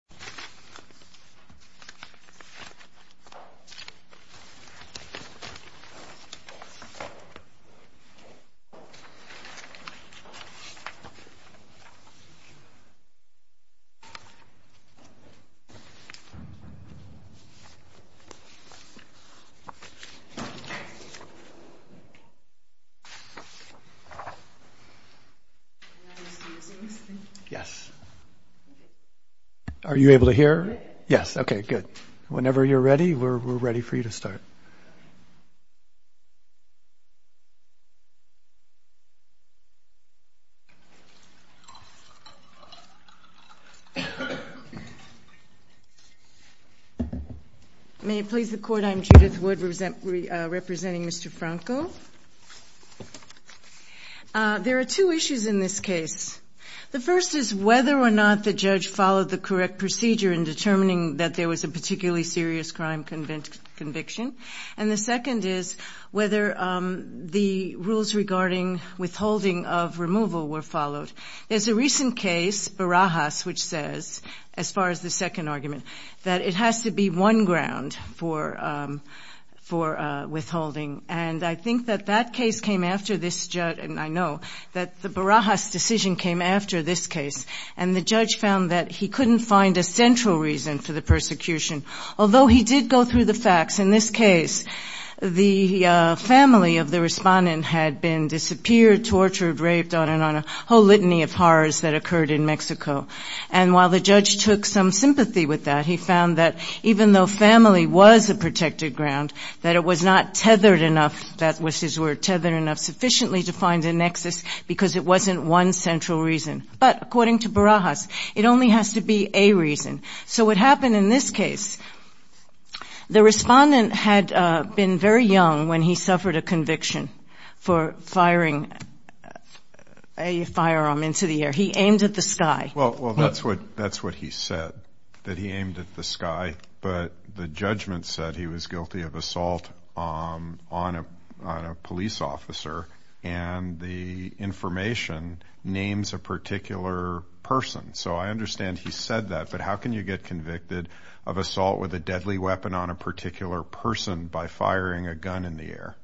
Let me say something. Yes. Are you able to hear? Yes. Okay, good. Whenever you're ready, we're ready for you to start. May it please the Court, I'm Judith Wood representing Mr. Franco. There are two issues in this case. The first is whether or not the judge followed the correct procedure in determining that there was a particularly serious crime conviction. And the second is whether the rules regarding withholding of removal were followed. There's a recent case, Barajas, which says, as far as the second argument, that it has to be one ground for withholding. And I think that that case came after this judge, and I know, that the Barajas decision came after this case. And the judge found that he couldn't find a central reason for the persecution. Although he did go through the facts, in this case, the family of the respondent had been disappeared, tortured, raped, on and on, a whole litany of horrors that occurred in Mexico. And while the judge took some sympathy with that, he found that even though family was a protected ground, that it was not tethered enough, that was his word, tethered enough sufficiently to find a nexus, because it wasn't one central reason. But, according to Barajas, it only has to be a reason. So what happened in this case, the respondent had been very young when he suffered a conviction for firing a firearm into the air. He aimed at the sky. Well, that's what he said, that he aimed at the sky. But the judgment said he was guilty of assault on a police officer, and the information names a particular person. So I understand he said that, but how can you get convicted of assault with a deadly weapon on a particular person by firing a gun in the air?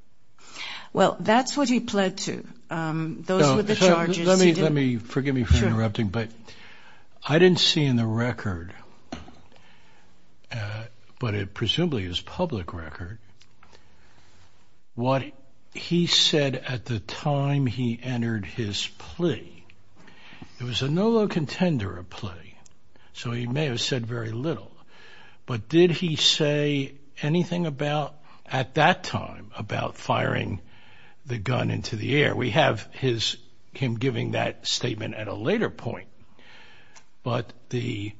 Well, that's what he pled to. Those were the charges. Let me, forgive me for interrupting, but I didn't see in the record, but it presumably is public record, what he said at the time he entered his plea. It was a no low contender of plea, so he may have said very little. But did he say anything about, at that time, about firing the gun into the air? We have him giving that statement at a later point. But the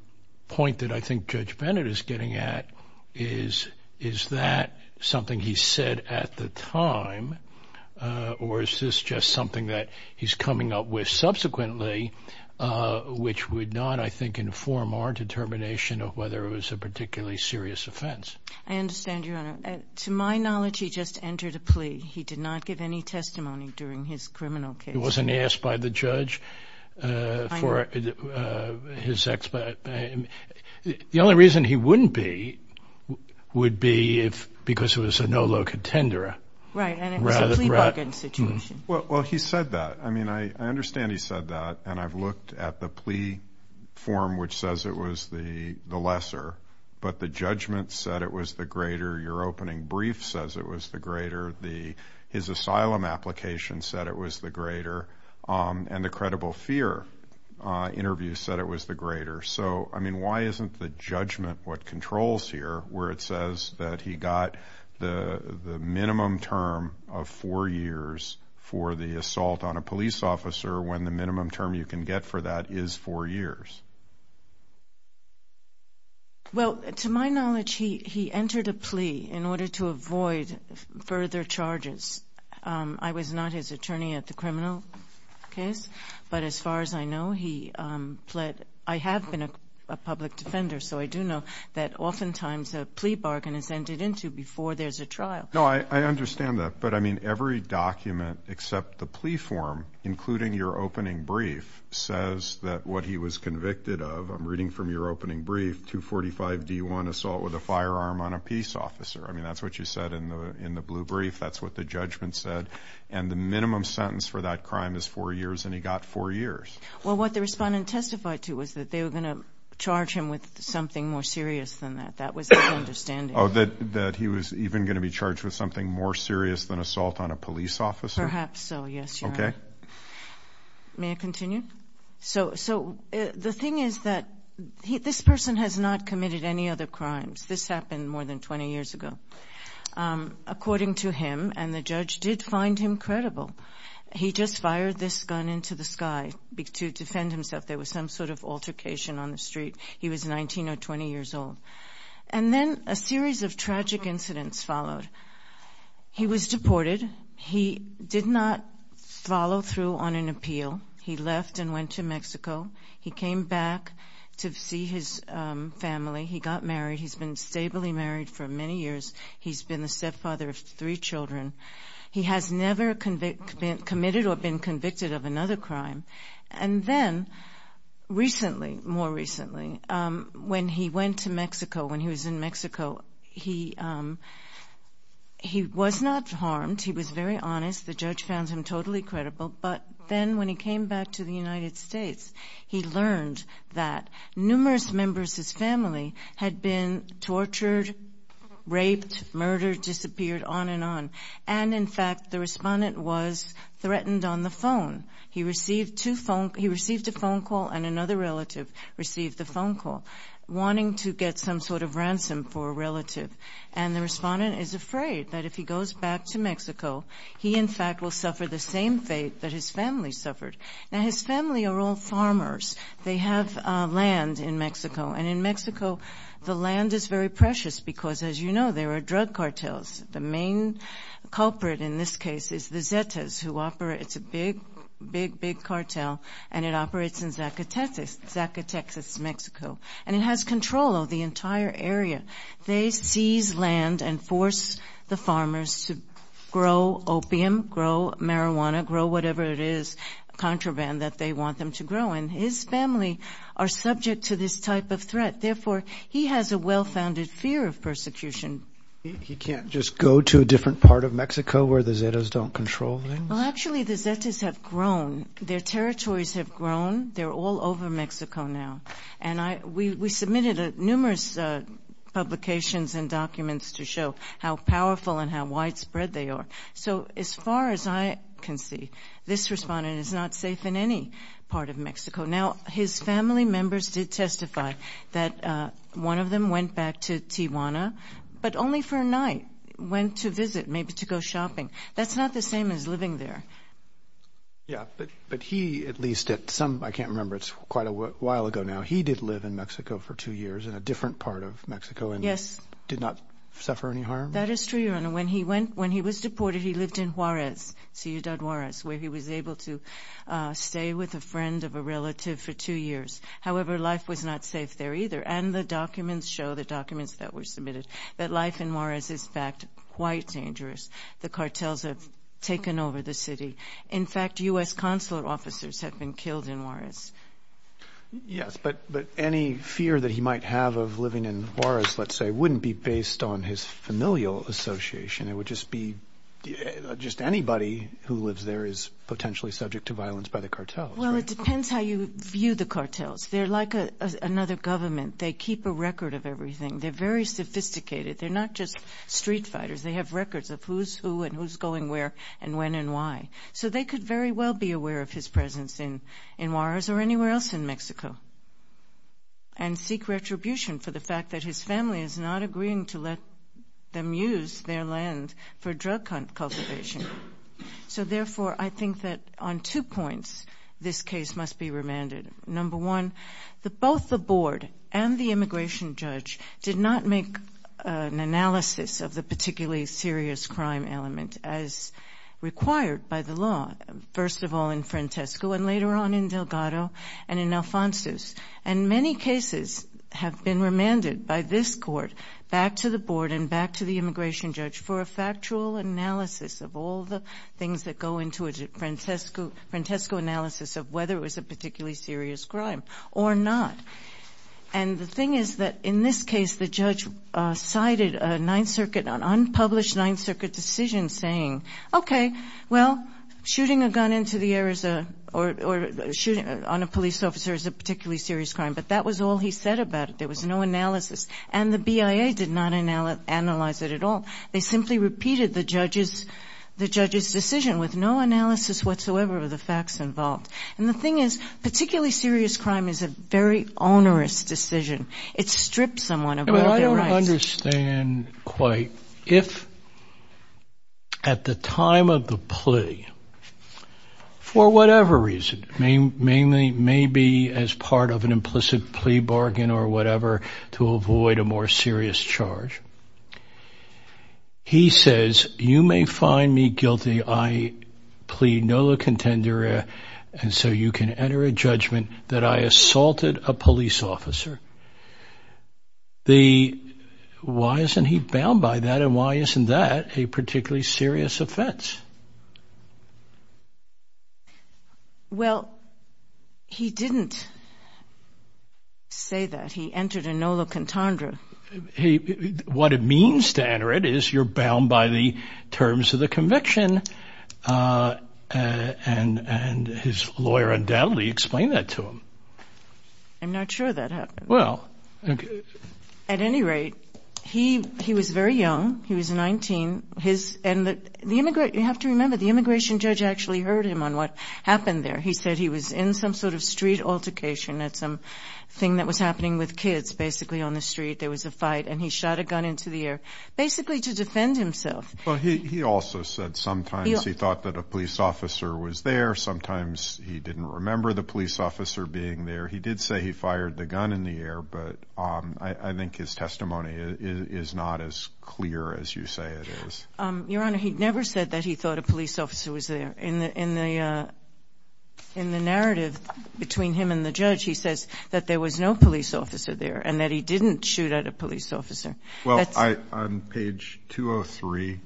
point that I think Judge Bennett is getting at is, is that something he said at the time, or is this just something that he's coming up with subsequently, which would not, I think, inform our determination of whether it was a particularly serious offense. I understand, Your Honor. To my knowledge, he just entered a plea. He did not give any testimony during his criminal case. He wasn't asked by the judge for his expo. The only reason he wouldn't be would be because it was a no low contender. Right, and it was a plea bargain situation. Well, he said that. I mean, I understand he said that, and I've looked at the plea form, which says it was the lesser, but the judgment said it was the greater. Your opening brief says it was the greater. His asylum application said it was the greater, and the credible fear interview said it was the greater. So, I mean, why isn't the judgment what controls here, where it says that he got the minimum term of four years for the assault on a police officer when the minimum term you can get for that is four years? Well, to my knowledge, he entered a plea in order to avoid further charges. I was not his attorney at the criminal case, but as far as I know, he pled. I have been a public defender, so I do know that oftentimes a plea bargain is entered into before there's a trial. No, I understand that. But, I mean, every document except the plea form, including your opening brief, says that what he was convicted of, I'm reading from your opening brief, 245D1, assault with a firearm on a peace officer. I mean, that's what you said in the blue brief. That's what the judgment said. And the minimum sentence for that crime is four years, and he got four years. Well, what the respondent testified to was that they were going to charge him with something more serious than that. That was his understanding. Oh, that he was even going to be charged with something more serious than assault on a police officer? Perhaps so, yes, Your Honor. Okay. May I continue? So the thing is that this person has not committed any other crimes. This happened more than 20 years ago. According to him, and the judge did find him credible, he just fired this gun into the sky to defend himself. There was some sort of altercation on the street. He was 19 or 20 years old. And then a series of tragic incidents followed. He was deported. He did not follow through on an appeal. He left and went to Mexico. He came back to see his family. He got married. He's been stably married for many years. He's been the stepfather of three children. He has never committed or been convicted of another crime. And then recently, more recently, when he went to Mexico, when he was in Mexico, he was not harmed. He was very honest. The judge found him totally credible. But then when he came back to the United States, he learned that numerous members of his family had been tortured, raped, murdered, disappeared, on and on. And, in fact, the respondent was threatened on the phone. He received a phone call, and another relative received the phone call, wanting to get some sort of ransom for a relative. And the respondent is afraid that if he goes back to Mexico, he, in fact, will suffer the same fate that his family suffered. Now, his family are all farmers. They have land in Mexico. And in Mexico, the land is very precious because, as you know, there are drug cartels. The main culprit in this case is the Zetas, who operates a big, big, big cartel, and it operates in Zacatecas, Mexico. And it has control of the entire area. They seize land and force the farmers to grow opium, grow marijuana, grow whatever it is, contraband that they want them to grow. And his family are subject to this type of threat. Therefore, he has a well-founded fear of persecution. He can't just go to a different part of Mexico where the Zetas don't control things? Well, actually, the Zetas have grown. Their territories have grown. They're all over Mexico now. And we submitted numerous publications and documents to show how powerful and how widespread they are. So as far as I can see, this respondent is not safe in any part of Mexico. Now, his family members did testify that one of them went back to Tijuana, but only for a night, went to visit, maybe to go shopping. That's not the same as living there. Yeah, but he at least at some, I can't remember, it's quite a while ago now, he did live in Mexico for two years in a different part of Mexico and did not suffer any harm? That is true, Your Honor. When he was deported, he lived in Juarez, Ciudad Juarez, where he was able to stay with a friend of a relative for two years. However, life was not safe there either, and the documents show, the documents that were submitted, that life in Juarez is, in fact, quite dangerous. The cartels have taken over the city. In fact, U.S. consular officers have been killed in Juarez. Yes, but any fear that he might have of living in Juarez, let's say, wouldn't be based on his familial association. It would just be just anybody who lives there is potentially subject to violence by the cartels, right? Well, it depends how you view the cartels. They're like another government. They keep a record of everything. They're very sophisticated. They're not just street fighters. They have records of who's who and who's going where and when and why. So they could very well be aware of his presence in Juarez or anywhere else in Mexico and seek retribution for the fact that his family is not agreeing to let them use their land for drug cultivation. So, therefore, I think that on two points this case must be remanded. Number one, both the board and the immigration judge did not make an analysis of the particularly serious crime element as required by the law, first of all in Francesco and later on in Delgado and in Alfonso. And many cases have been remanded by this court, back to the board and back to the immigration judge, for a factual analysis of all the things that go into a Francesco analysis of whether it was a particularly serious crime or not. And the thing is that in this case the judge cited a Ninth Circuit, an unpublished Ninth Circuit decision saying, okay, well, shooting a gun into the air is a, or shooting on a police officer is a particularly serious crime. But that was all he said about it. There was no analysis. And the BIA did not analyze it at all. They simply repeated the judge's decision with no analysis whatsoever of the facts involved. And the thing is, particularly serious crime is a very onerous decision. It strips someone of all their rights. Well, I don't understand quite. If at the time of the plea, for whatever reason, maybe as part of an implicit plea bargain or whatever to avoid a more serious charge, he says, you may find me guilty. I plead nolo contendere, and so you can enter a judgment that I assaulted a police officer. The, why isn't he bound by that? And why isn't that a particularly serious offense? Well, he didn't say that. He entered a nolo contendere. What it means to enter it is you're bound by the terms of the conviction. And his lawyer undoubtedly explained that to him. I'm not sure that happened. Well. At any rate, he was very young. He was 19. His, and the immigrant, you have to remember, the immigration judge actually heard him on what happened there. He said he was in some sort of street altercation at something that was happening with kids, basically, on the street. There was a fight, and he shot a gun into the air, basically to defend himself. Well, he also said sometimes he thought that a police officer was there. Sometimes he didn't remember the police officer being there. He did say he fired the gun in the air, but I think his testimony is not as clear as you say it is. Your Honor, he never said that he thought a police officer was there. In the narrative between him and the judge, he says that there was no police officer there and that he didn't shoot at a police officer. Well, on page 203,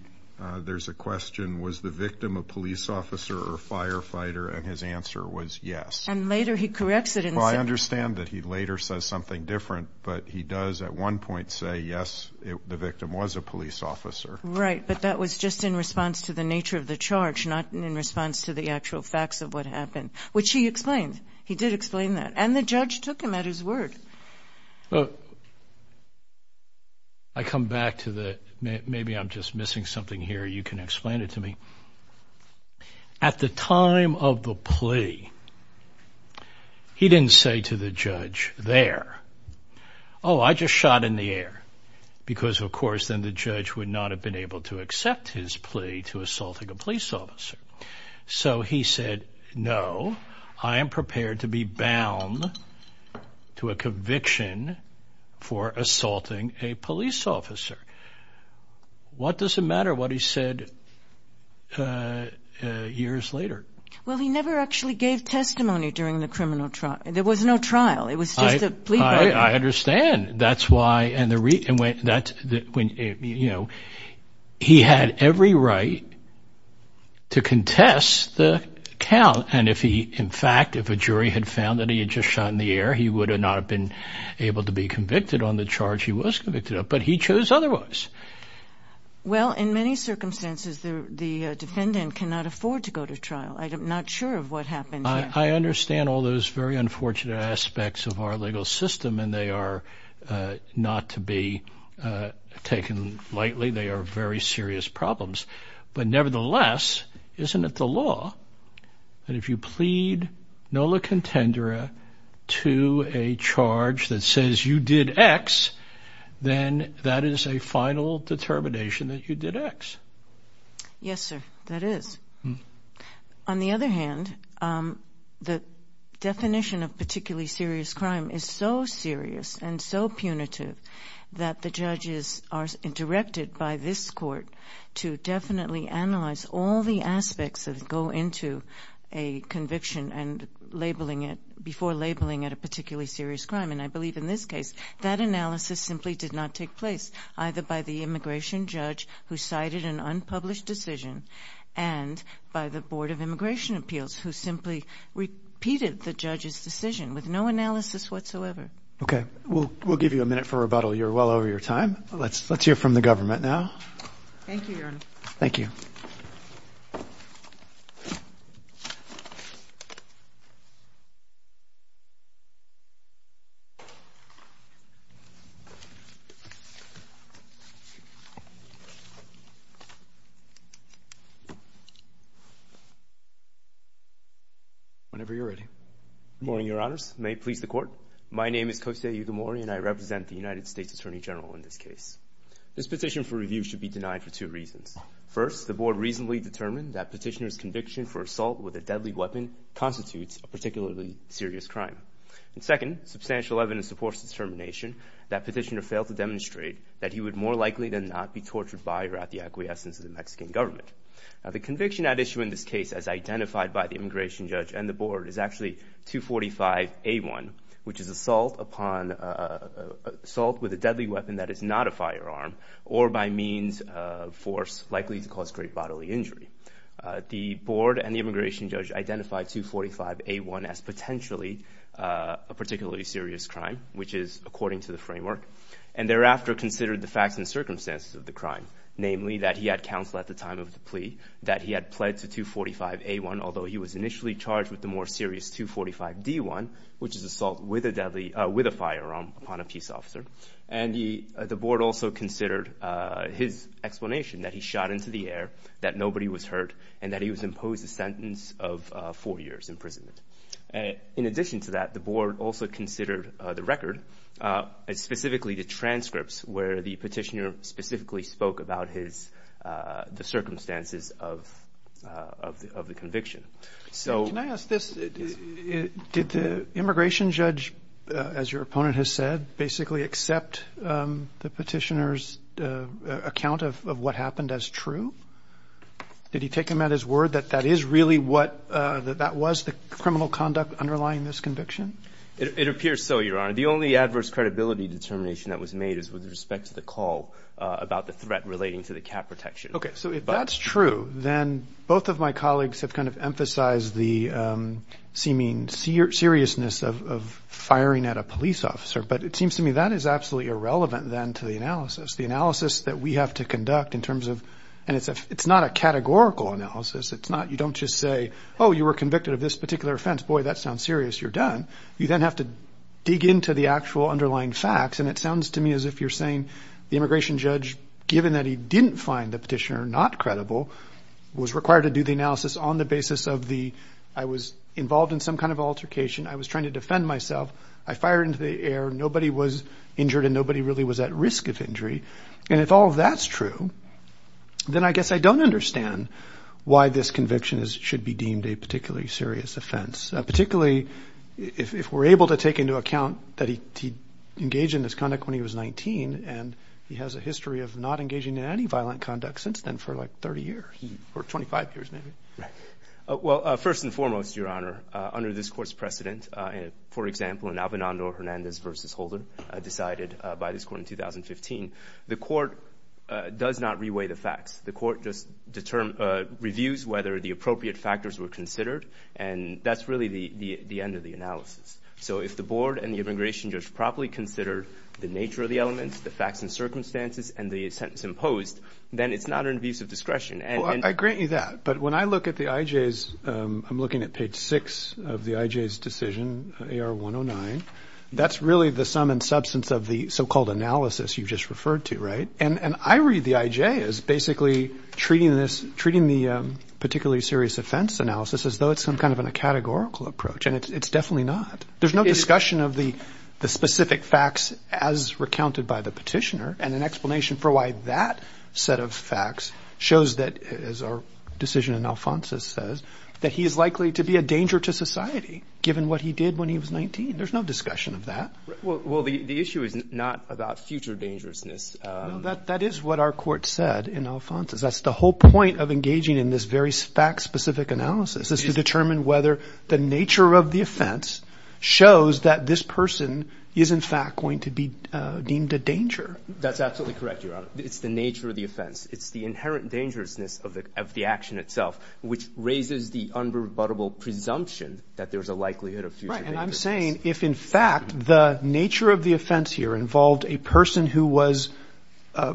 there's a question, was the victim a police officer or a firefighter? And his answer was yes. And later he corrects it. Well, I understand that he later says something different, but he does at one point say, yes, the victim was a police officer. Right, but that was just in response to the nature of the charge, not in response to the actual facts of what happened, which he explained. He did explain that. And the judge took him at his word. I come back to the – maybe I'm just missing something here. You can explain it to me. At the time of the plea, he didn't say to the judge there, oh, I just shot in the air, because, of course, then the judge would not have been able to accept his plea to assaulting a police officer. So he said, no, I am prepared to be bound to a conviction for assaulting a police officer. What does it matter what he said years later? Well, he never actually gave testimony during the criminal trial. There was no trial. It was just a plea bargain. I understand. He had every right to contest the count. And if he – in fact, if a jury had found that he had just shot in the air, he would not have been able to be convicted on the charge he was convicted of. But he chose otherwise. Well, in many circumstances, the defendant cannot afford to go to trial. I'm not sure of what happened here. I understand all those very unfortunate aspects of our legal system, and they are not to be taken lightly. They are very serious problems. But nevertheless, isn't it the law that if you plead nola contendere to a charge that says you did X, then that is a final determination that you did X? Yes, sir, that is. On the other hand, the definition of particularly serious crime is so serious and so punitive that the judges are directed by this court to definitely analyze all the aspects that go into a conviction and labeling it before labeling it a particularly serious crime. And I believe in this case that analysis simply did not take place, either by the immigration judge who cited an unpublished decision and by the Board of Immigration Appeals who simply repeated the judge's decision with no analysis whatsoever. Okay. We'll give you a minute for rebuttal. You're well over your time. Let's hear from the government now. Thank you, Your Honor. Thank you. Whenever you're ready. Good morning, Your Honors. May it please the Court. My name is Kosei Ugamori, and I represent the United States Attorney General in this case. This petition for review should be denied for two reasons. First, the Board reasonably determined that petitioner's conviction for assault with a deadly weapon constitutes a particularly serious crime. And second, substantial evidence supports the determination that petitioner failed to demonstrate that he would more likely than not be tortured by or at the acquiescence of the Mexican government. The conviction at issue in this case, as identified by the immigration judge and the Board, is actually 245A1, which is assault with a deadly weapon that is not a firearm or by means of force likely to cause great bodily injury. The Board and the immigration judge identified 245A1 as potentially a particularly serious crime, which is according to the framework. And thereafter considered the facts and circumstances of the crime, namely that he had counsel at the time of the plea, that he had pled to 245A1, although he was initially charged with the more serious 245D1, which is assault with a firearm upon a peace officer. And the Board also considered his explanation that he shot into the air, that nobody was hurt, and that he was imposed a sentence of four years imprisonment. In addition to that, the Board also considered the record, specifically the transcripts, where the petitioner specifically spoke about the circumstances of the conviction. Can I ask this? Did the immigration judge, as your opponent has said, basically accept the petitioner's account of what happened as true? Did he take him at his word that that is really what that was, the criminal conduct underlying this conviction? It appears so, Your Honor. The only adverse credibility determination that was made is with respect to the call about the threat relating to the cat protection. Okay. So if that's true, then both of my colleagues have kind of emphasized the seeming seriousness of firing at a police officer. But it seems to me that is absolutely irrelevant then to the analysis. The analysis that we have to conduct in terms of – and it's not a categorical analysis. It's not – you don't just say, oh, you were convicted of this particular offense. Boy, that sounds serious. You're done. You then have to dig into the actual underlying facts. And it sounds to me as if you're saying the immigration judge, given that he didn't find the petitioner not credible, was required to do the analysis on the basis of the – I was involved in some kind of altercation. I was trying to defend myself. I fired into the air. Nobody was injured and nobody really was at risk of injury. And if all of that's true, then I guess I don't understand why this conviction should be deemed a particularly serious offense, particularly if we're able to take into account that he engaged in this conduct when he was 19 and he has a history of not engaging in any violent conduct since then for, like, 30 years or 25 years maybe. Right. Well, first and foremost, Your Honor, under this court's precedent, for example, in Albinando Hernandez v. Holder decided by this court in 2015, the court does not reweigh the facts. The court just reviews whether the appropriate factors were considered, and that's really the end of the analysis. So if the board and the immigration judge properly considered the nature of the elements, the facts and circumstances, and the sentence imposed, then it's not an abuse of discretion. Well, I grant you that. But when I look at the I.J.'s, I'm looking at page 6 of the I.J.'s decision, AR 109, that's really the sum and substance of the so-called analysis you just referred to, right? And I read the I.J. as basically treating the particularly serious offense analysis as though it's some kind of a categorical approach, and it's definitely not. There's no discussion of the specific facts as recounted by the petitioner and an explanation for why that set of facts shows that, as our decision in Alfonso's says, that he is likely to be a danger to society given what he did when he was 19. There's no discussion of that. Well, the issue is not about future dangerousness. That is what our court said in Alfonso's. That's the whole point of engaging in this very fact-specific analysis, is to determine whether the nature of the offense shows that this person is in fact going to be deemed a danger. That's absolutely correct, Your Honor. It's the nature of the offense. It's the inherent dangerousness of the action itself, which raises the unrebuttable presumption that there's a likelihood of future dangerousness. Right, and I'm saying if, in fact, the nature of the offense here involved a person who was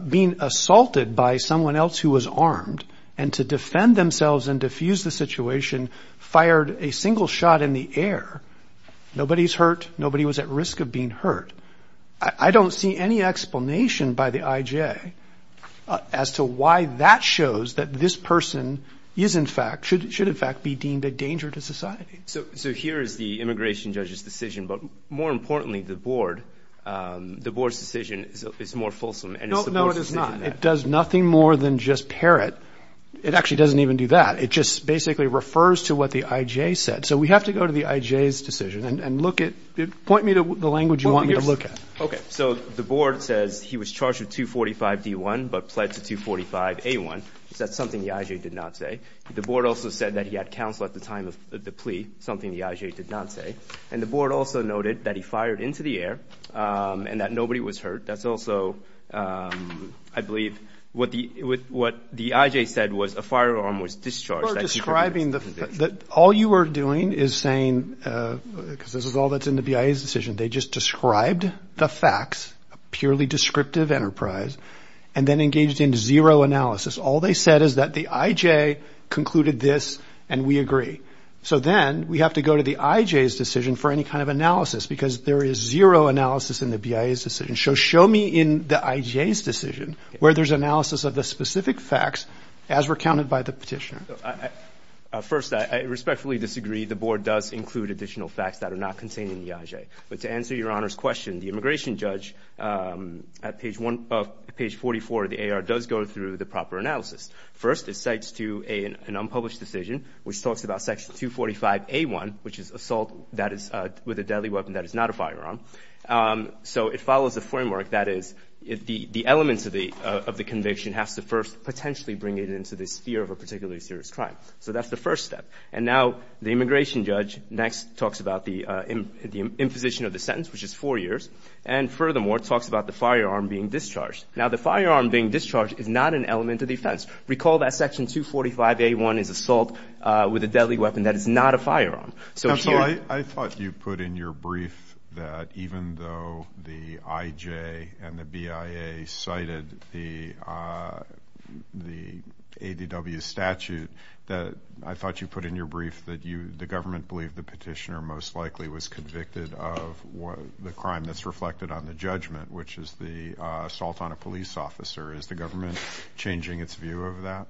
being assaulted by someone else who was armed and to defend themselves and defuse the situation, fired a single shot in the air, nobody's hurt, nobody was at risk of being hurt. I don't see any explanation by the IJ as to why that shows that this person is, in fact, should, in fact, be deemed a danger to society. So here is the immigration judge's decision, but more importantly, the board, the board's decision is more fulsome. No, it is not. It does nothing more than just parrot. It actually doesn't even do that. It just basically refers to what the IJ said. So we have to go to the IJ's decision and look at, point me to the language you want me to look at. Okay, so the board says he was charged with 245-D1 but pled to 245-A1. That's something the IJ did not say. The board also said that he had counsel at the time of the plea, something the IJ did not say. And the board also noted that he fired into the air and that nobody was hurt. That's also, I believe, what the IJ said was a firearm was discharged. All you are doing is saying, because this is all that's in the BIA's decision, they just described the facts, a purely descriptive enterprise, and then engaged in zero analysis. All they said is that the IJ concluded this and we agree. So then we have to go to the IJ's decision for any kind of analysis because there is zero analysis in the BIA's decision. So show me in the IJ's decision where there's analysis of the specific facts as recounted by the petitioner. First, I respectfully disagree. The board does include additional facts that are not contained in the IJ. But to answer Your Honor's question, the immigration judge at page 44 of the AR does go through the proper analysis. First, it cites to an unpublished decision, which talks about section 245-A1, which is assault with a deadly weapon that is not a firearm. So it follows a framework that is the elements of the conviction has to first potentially bring it into this sphere of a particularly serious crime. So that's the first step. And now the immigration judge next talks about the imposition of the sentence, which is four years, and furthermore talks about the firearm being discharged. Now, the firearm being discharged is not an element of the offense. Recall that section 245-A1 is assault with a deadly weapon. That is not a firearm. Counsel, I thought you put in your brief that even though the IJ and the BIA cited the ADW statute, I thought you put in your brief that the government believed the petitioner most likely was convicted of the crime that's reflected on the judgment, which is the assault on a police officer. Is the government changing its view of that?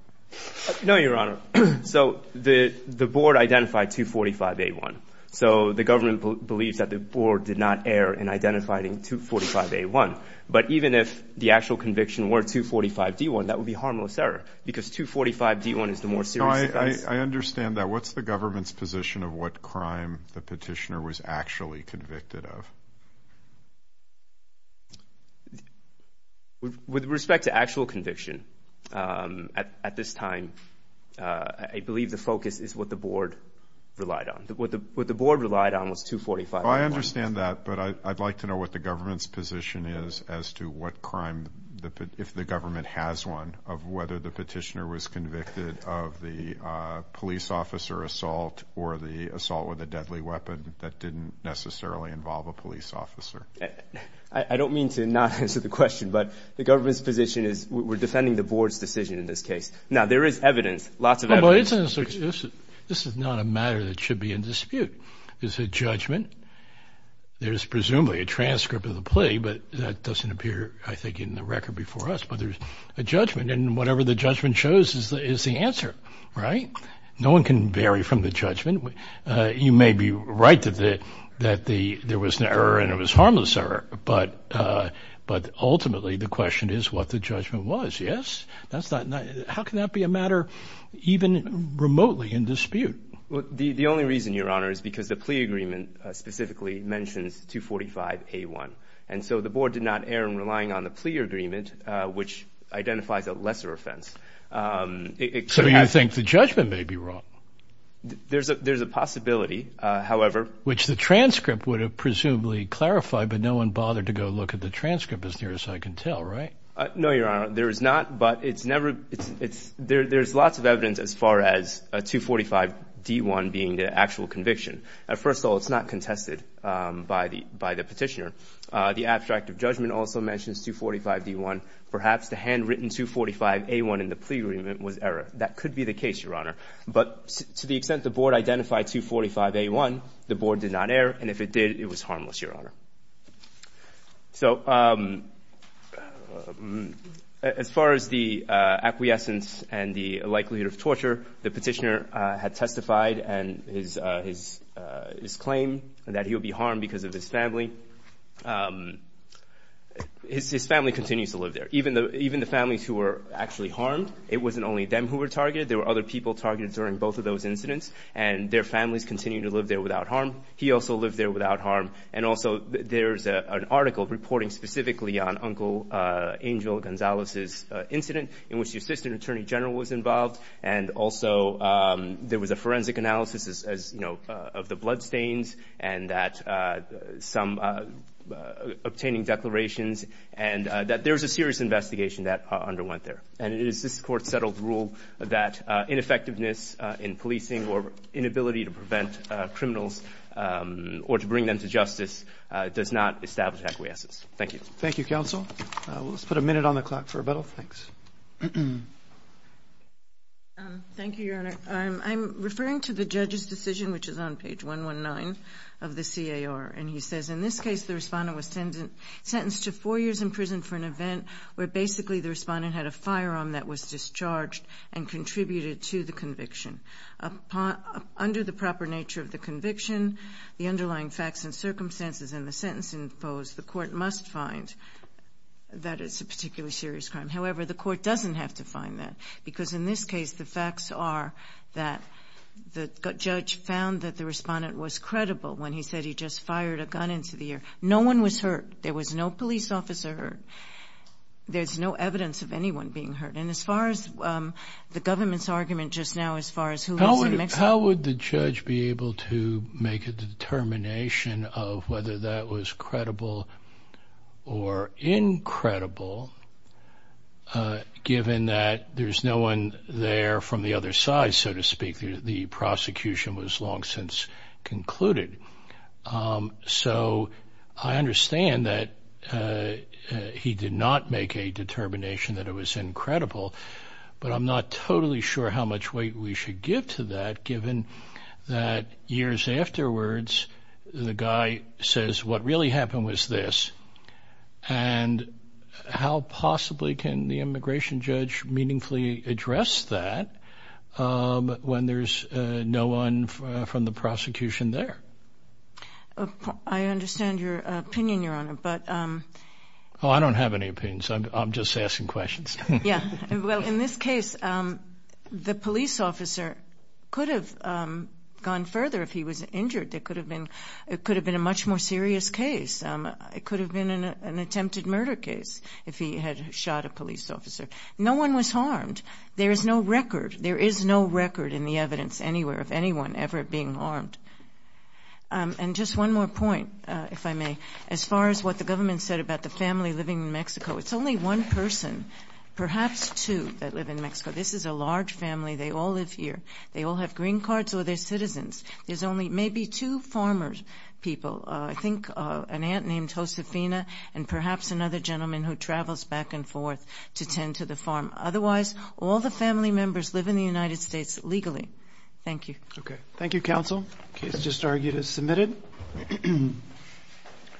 No, Your Honor. So the board identified 245-A1. So the government believes that the board did not err in identifying 245-A1. But even if the actual conviction were 245-D1, that would be harmless error because 245-D1 is the more serious offense. No, I understand that. What's the government's position of what crime the petitioner was actually convicted of? With respect to actual conviction, at this time, I believe the focus is what the board relied on. What the board relied on was 245-A1. I understand that, but I'd like to know what the government's position is as to what crime, if the government has one, of whether the petitioner was convicted of the police officer assault or the assault with a deadly weapon that didn't necessarily involve a police officer. I don't mean to not answer the question, but the government's position is we're defending the board's decision in this case. Now, there is evidence, lots of evidence. This is not a matter that should be in dispute. It's a judgment. There's presumably a transcript of the plea, but that doesn't appear, I think, in the record before us. But there's a judgment, and whatever the judgment shows is the answer, right? No one can vary from the judgment. You may be right that there was an error and it was a harmless error, but ultimately the question is what the judgment was, yes? How can that be a matter even remotely in dispute? The only reason, Your Honor, is because the plea agreement specifically mentions 245-A1, and so the board did not err in relying on the plea agreement, which identifies a lesser offense. So you think the judgment may be wrong? There's a possibility, however. Which the transcript would have presumably clarified, but no one bothered to go look at the transcript as near as I can tell, right? No, Your Honor, there is not, but there's lots of evidence as far as 245-D1 being the actual conviction. First of all, it's not contested by the petitioner. The abstract of judgment also mentions 245-D1. Perhaps the handwritten 245-A1 in the plea agreement was error. That could be the case, Your Honor, but to the extent the board identified 245-A1, the board did not err, and if it did, it was harmless, Your Honor. So as far as the acquiescence and the likelihood of torture, the petitioner had testified in his claim that he would be harmed because of his family. His family continues to live there. Even the families who were actually harmed, it wasn't only them who were targeted. There were other people targeted during both of those incidents, and their families continue to live there without harm. He also lived there without harm. And also there's an article reporting specifically on Uncle Angel Gonzalez's incident in which the assistant attorney general was involved, and also there was a forensic analysis of the bloodstains and that some obtaining declarations, and that there was a serious investigation that underwent there. And it is this Court's settled rule that ineffectiveness in policing or inability to prevent criminals or to bring them to justice does not establish acquiescence. Thank you. Thank you, counsel. Let's put a minute on the clock for rebuttal. Thanks. Thank you, Your Honor. I'm referring to the judge's decision, which is on page 119 of the CAR. And he says, in this case the respondent was sentenced to four years in prison for an event where basically the respondent had a firearm that was discharged and contributed to the conviction. Under the proper nature of the conviction, the underlying facts and circumstances in the sentence imposed, the Court must find that it's a particularly serious crime. However, the Court doesn't have to find that because, in this case, the facts are that the judge found that the respondent was credible when he said he just fired a gun into the air. No one was hurt. There was no police officer hurt. There's no evidence of anyone being hurt. And as far as the government's argument just now as far as who was in Mexico. How would the judge be able to make a determination of whether that was credible or incredible given that there's no one there from the other side, so to speak. The prosecution was long since concluded. So I understand that he did not make a determination that it was incredible, but I'm not totally sure how much weight we should give to that that years afterwards, the guy says what really happened was this. And how possibly can the immigration judge meaningfully address that when there's no one from the prosecution there? I understand your opinion, Your Honor, but... Oh, I don't have any opinions. I'm just asking questions. Yeah. Well, in this case, the police officer could have gone further if he was injured. It could have been a much more serious case. It could have been an attempted murder case if he had shot a police officer. No one was harmed. There is no record in the evidence anywhere of anyone ever being harmed. And just one more point, if I may. As far as what the government said about the family living in Mexico, it's only one person, perhaps two, that live in Mexico. This is a large family. They all live here. They all have green cards or they're citizens. There's only maybe two farmer people, I think an aunt named Josefina and perhaps another gentleman who travels back and forth to tend to the farm. Otherwise, all the family members live in the United States legally. Thank you. Okay. Thank you, counsel. Case just argued as submitted.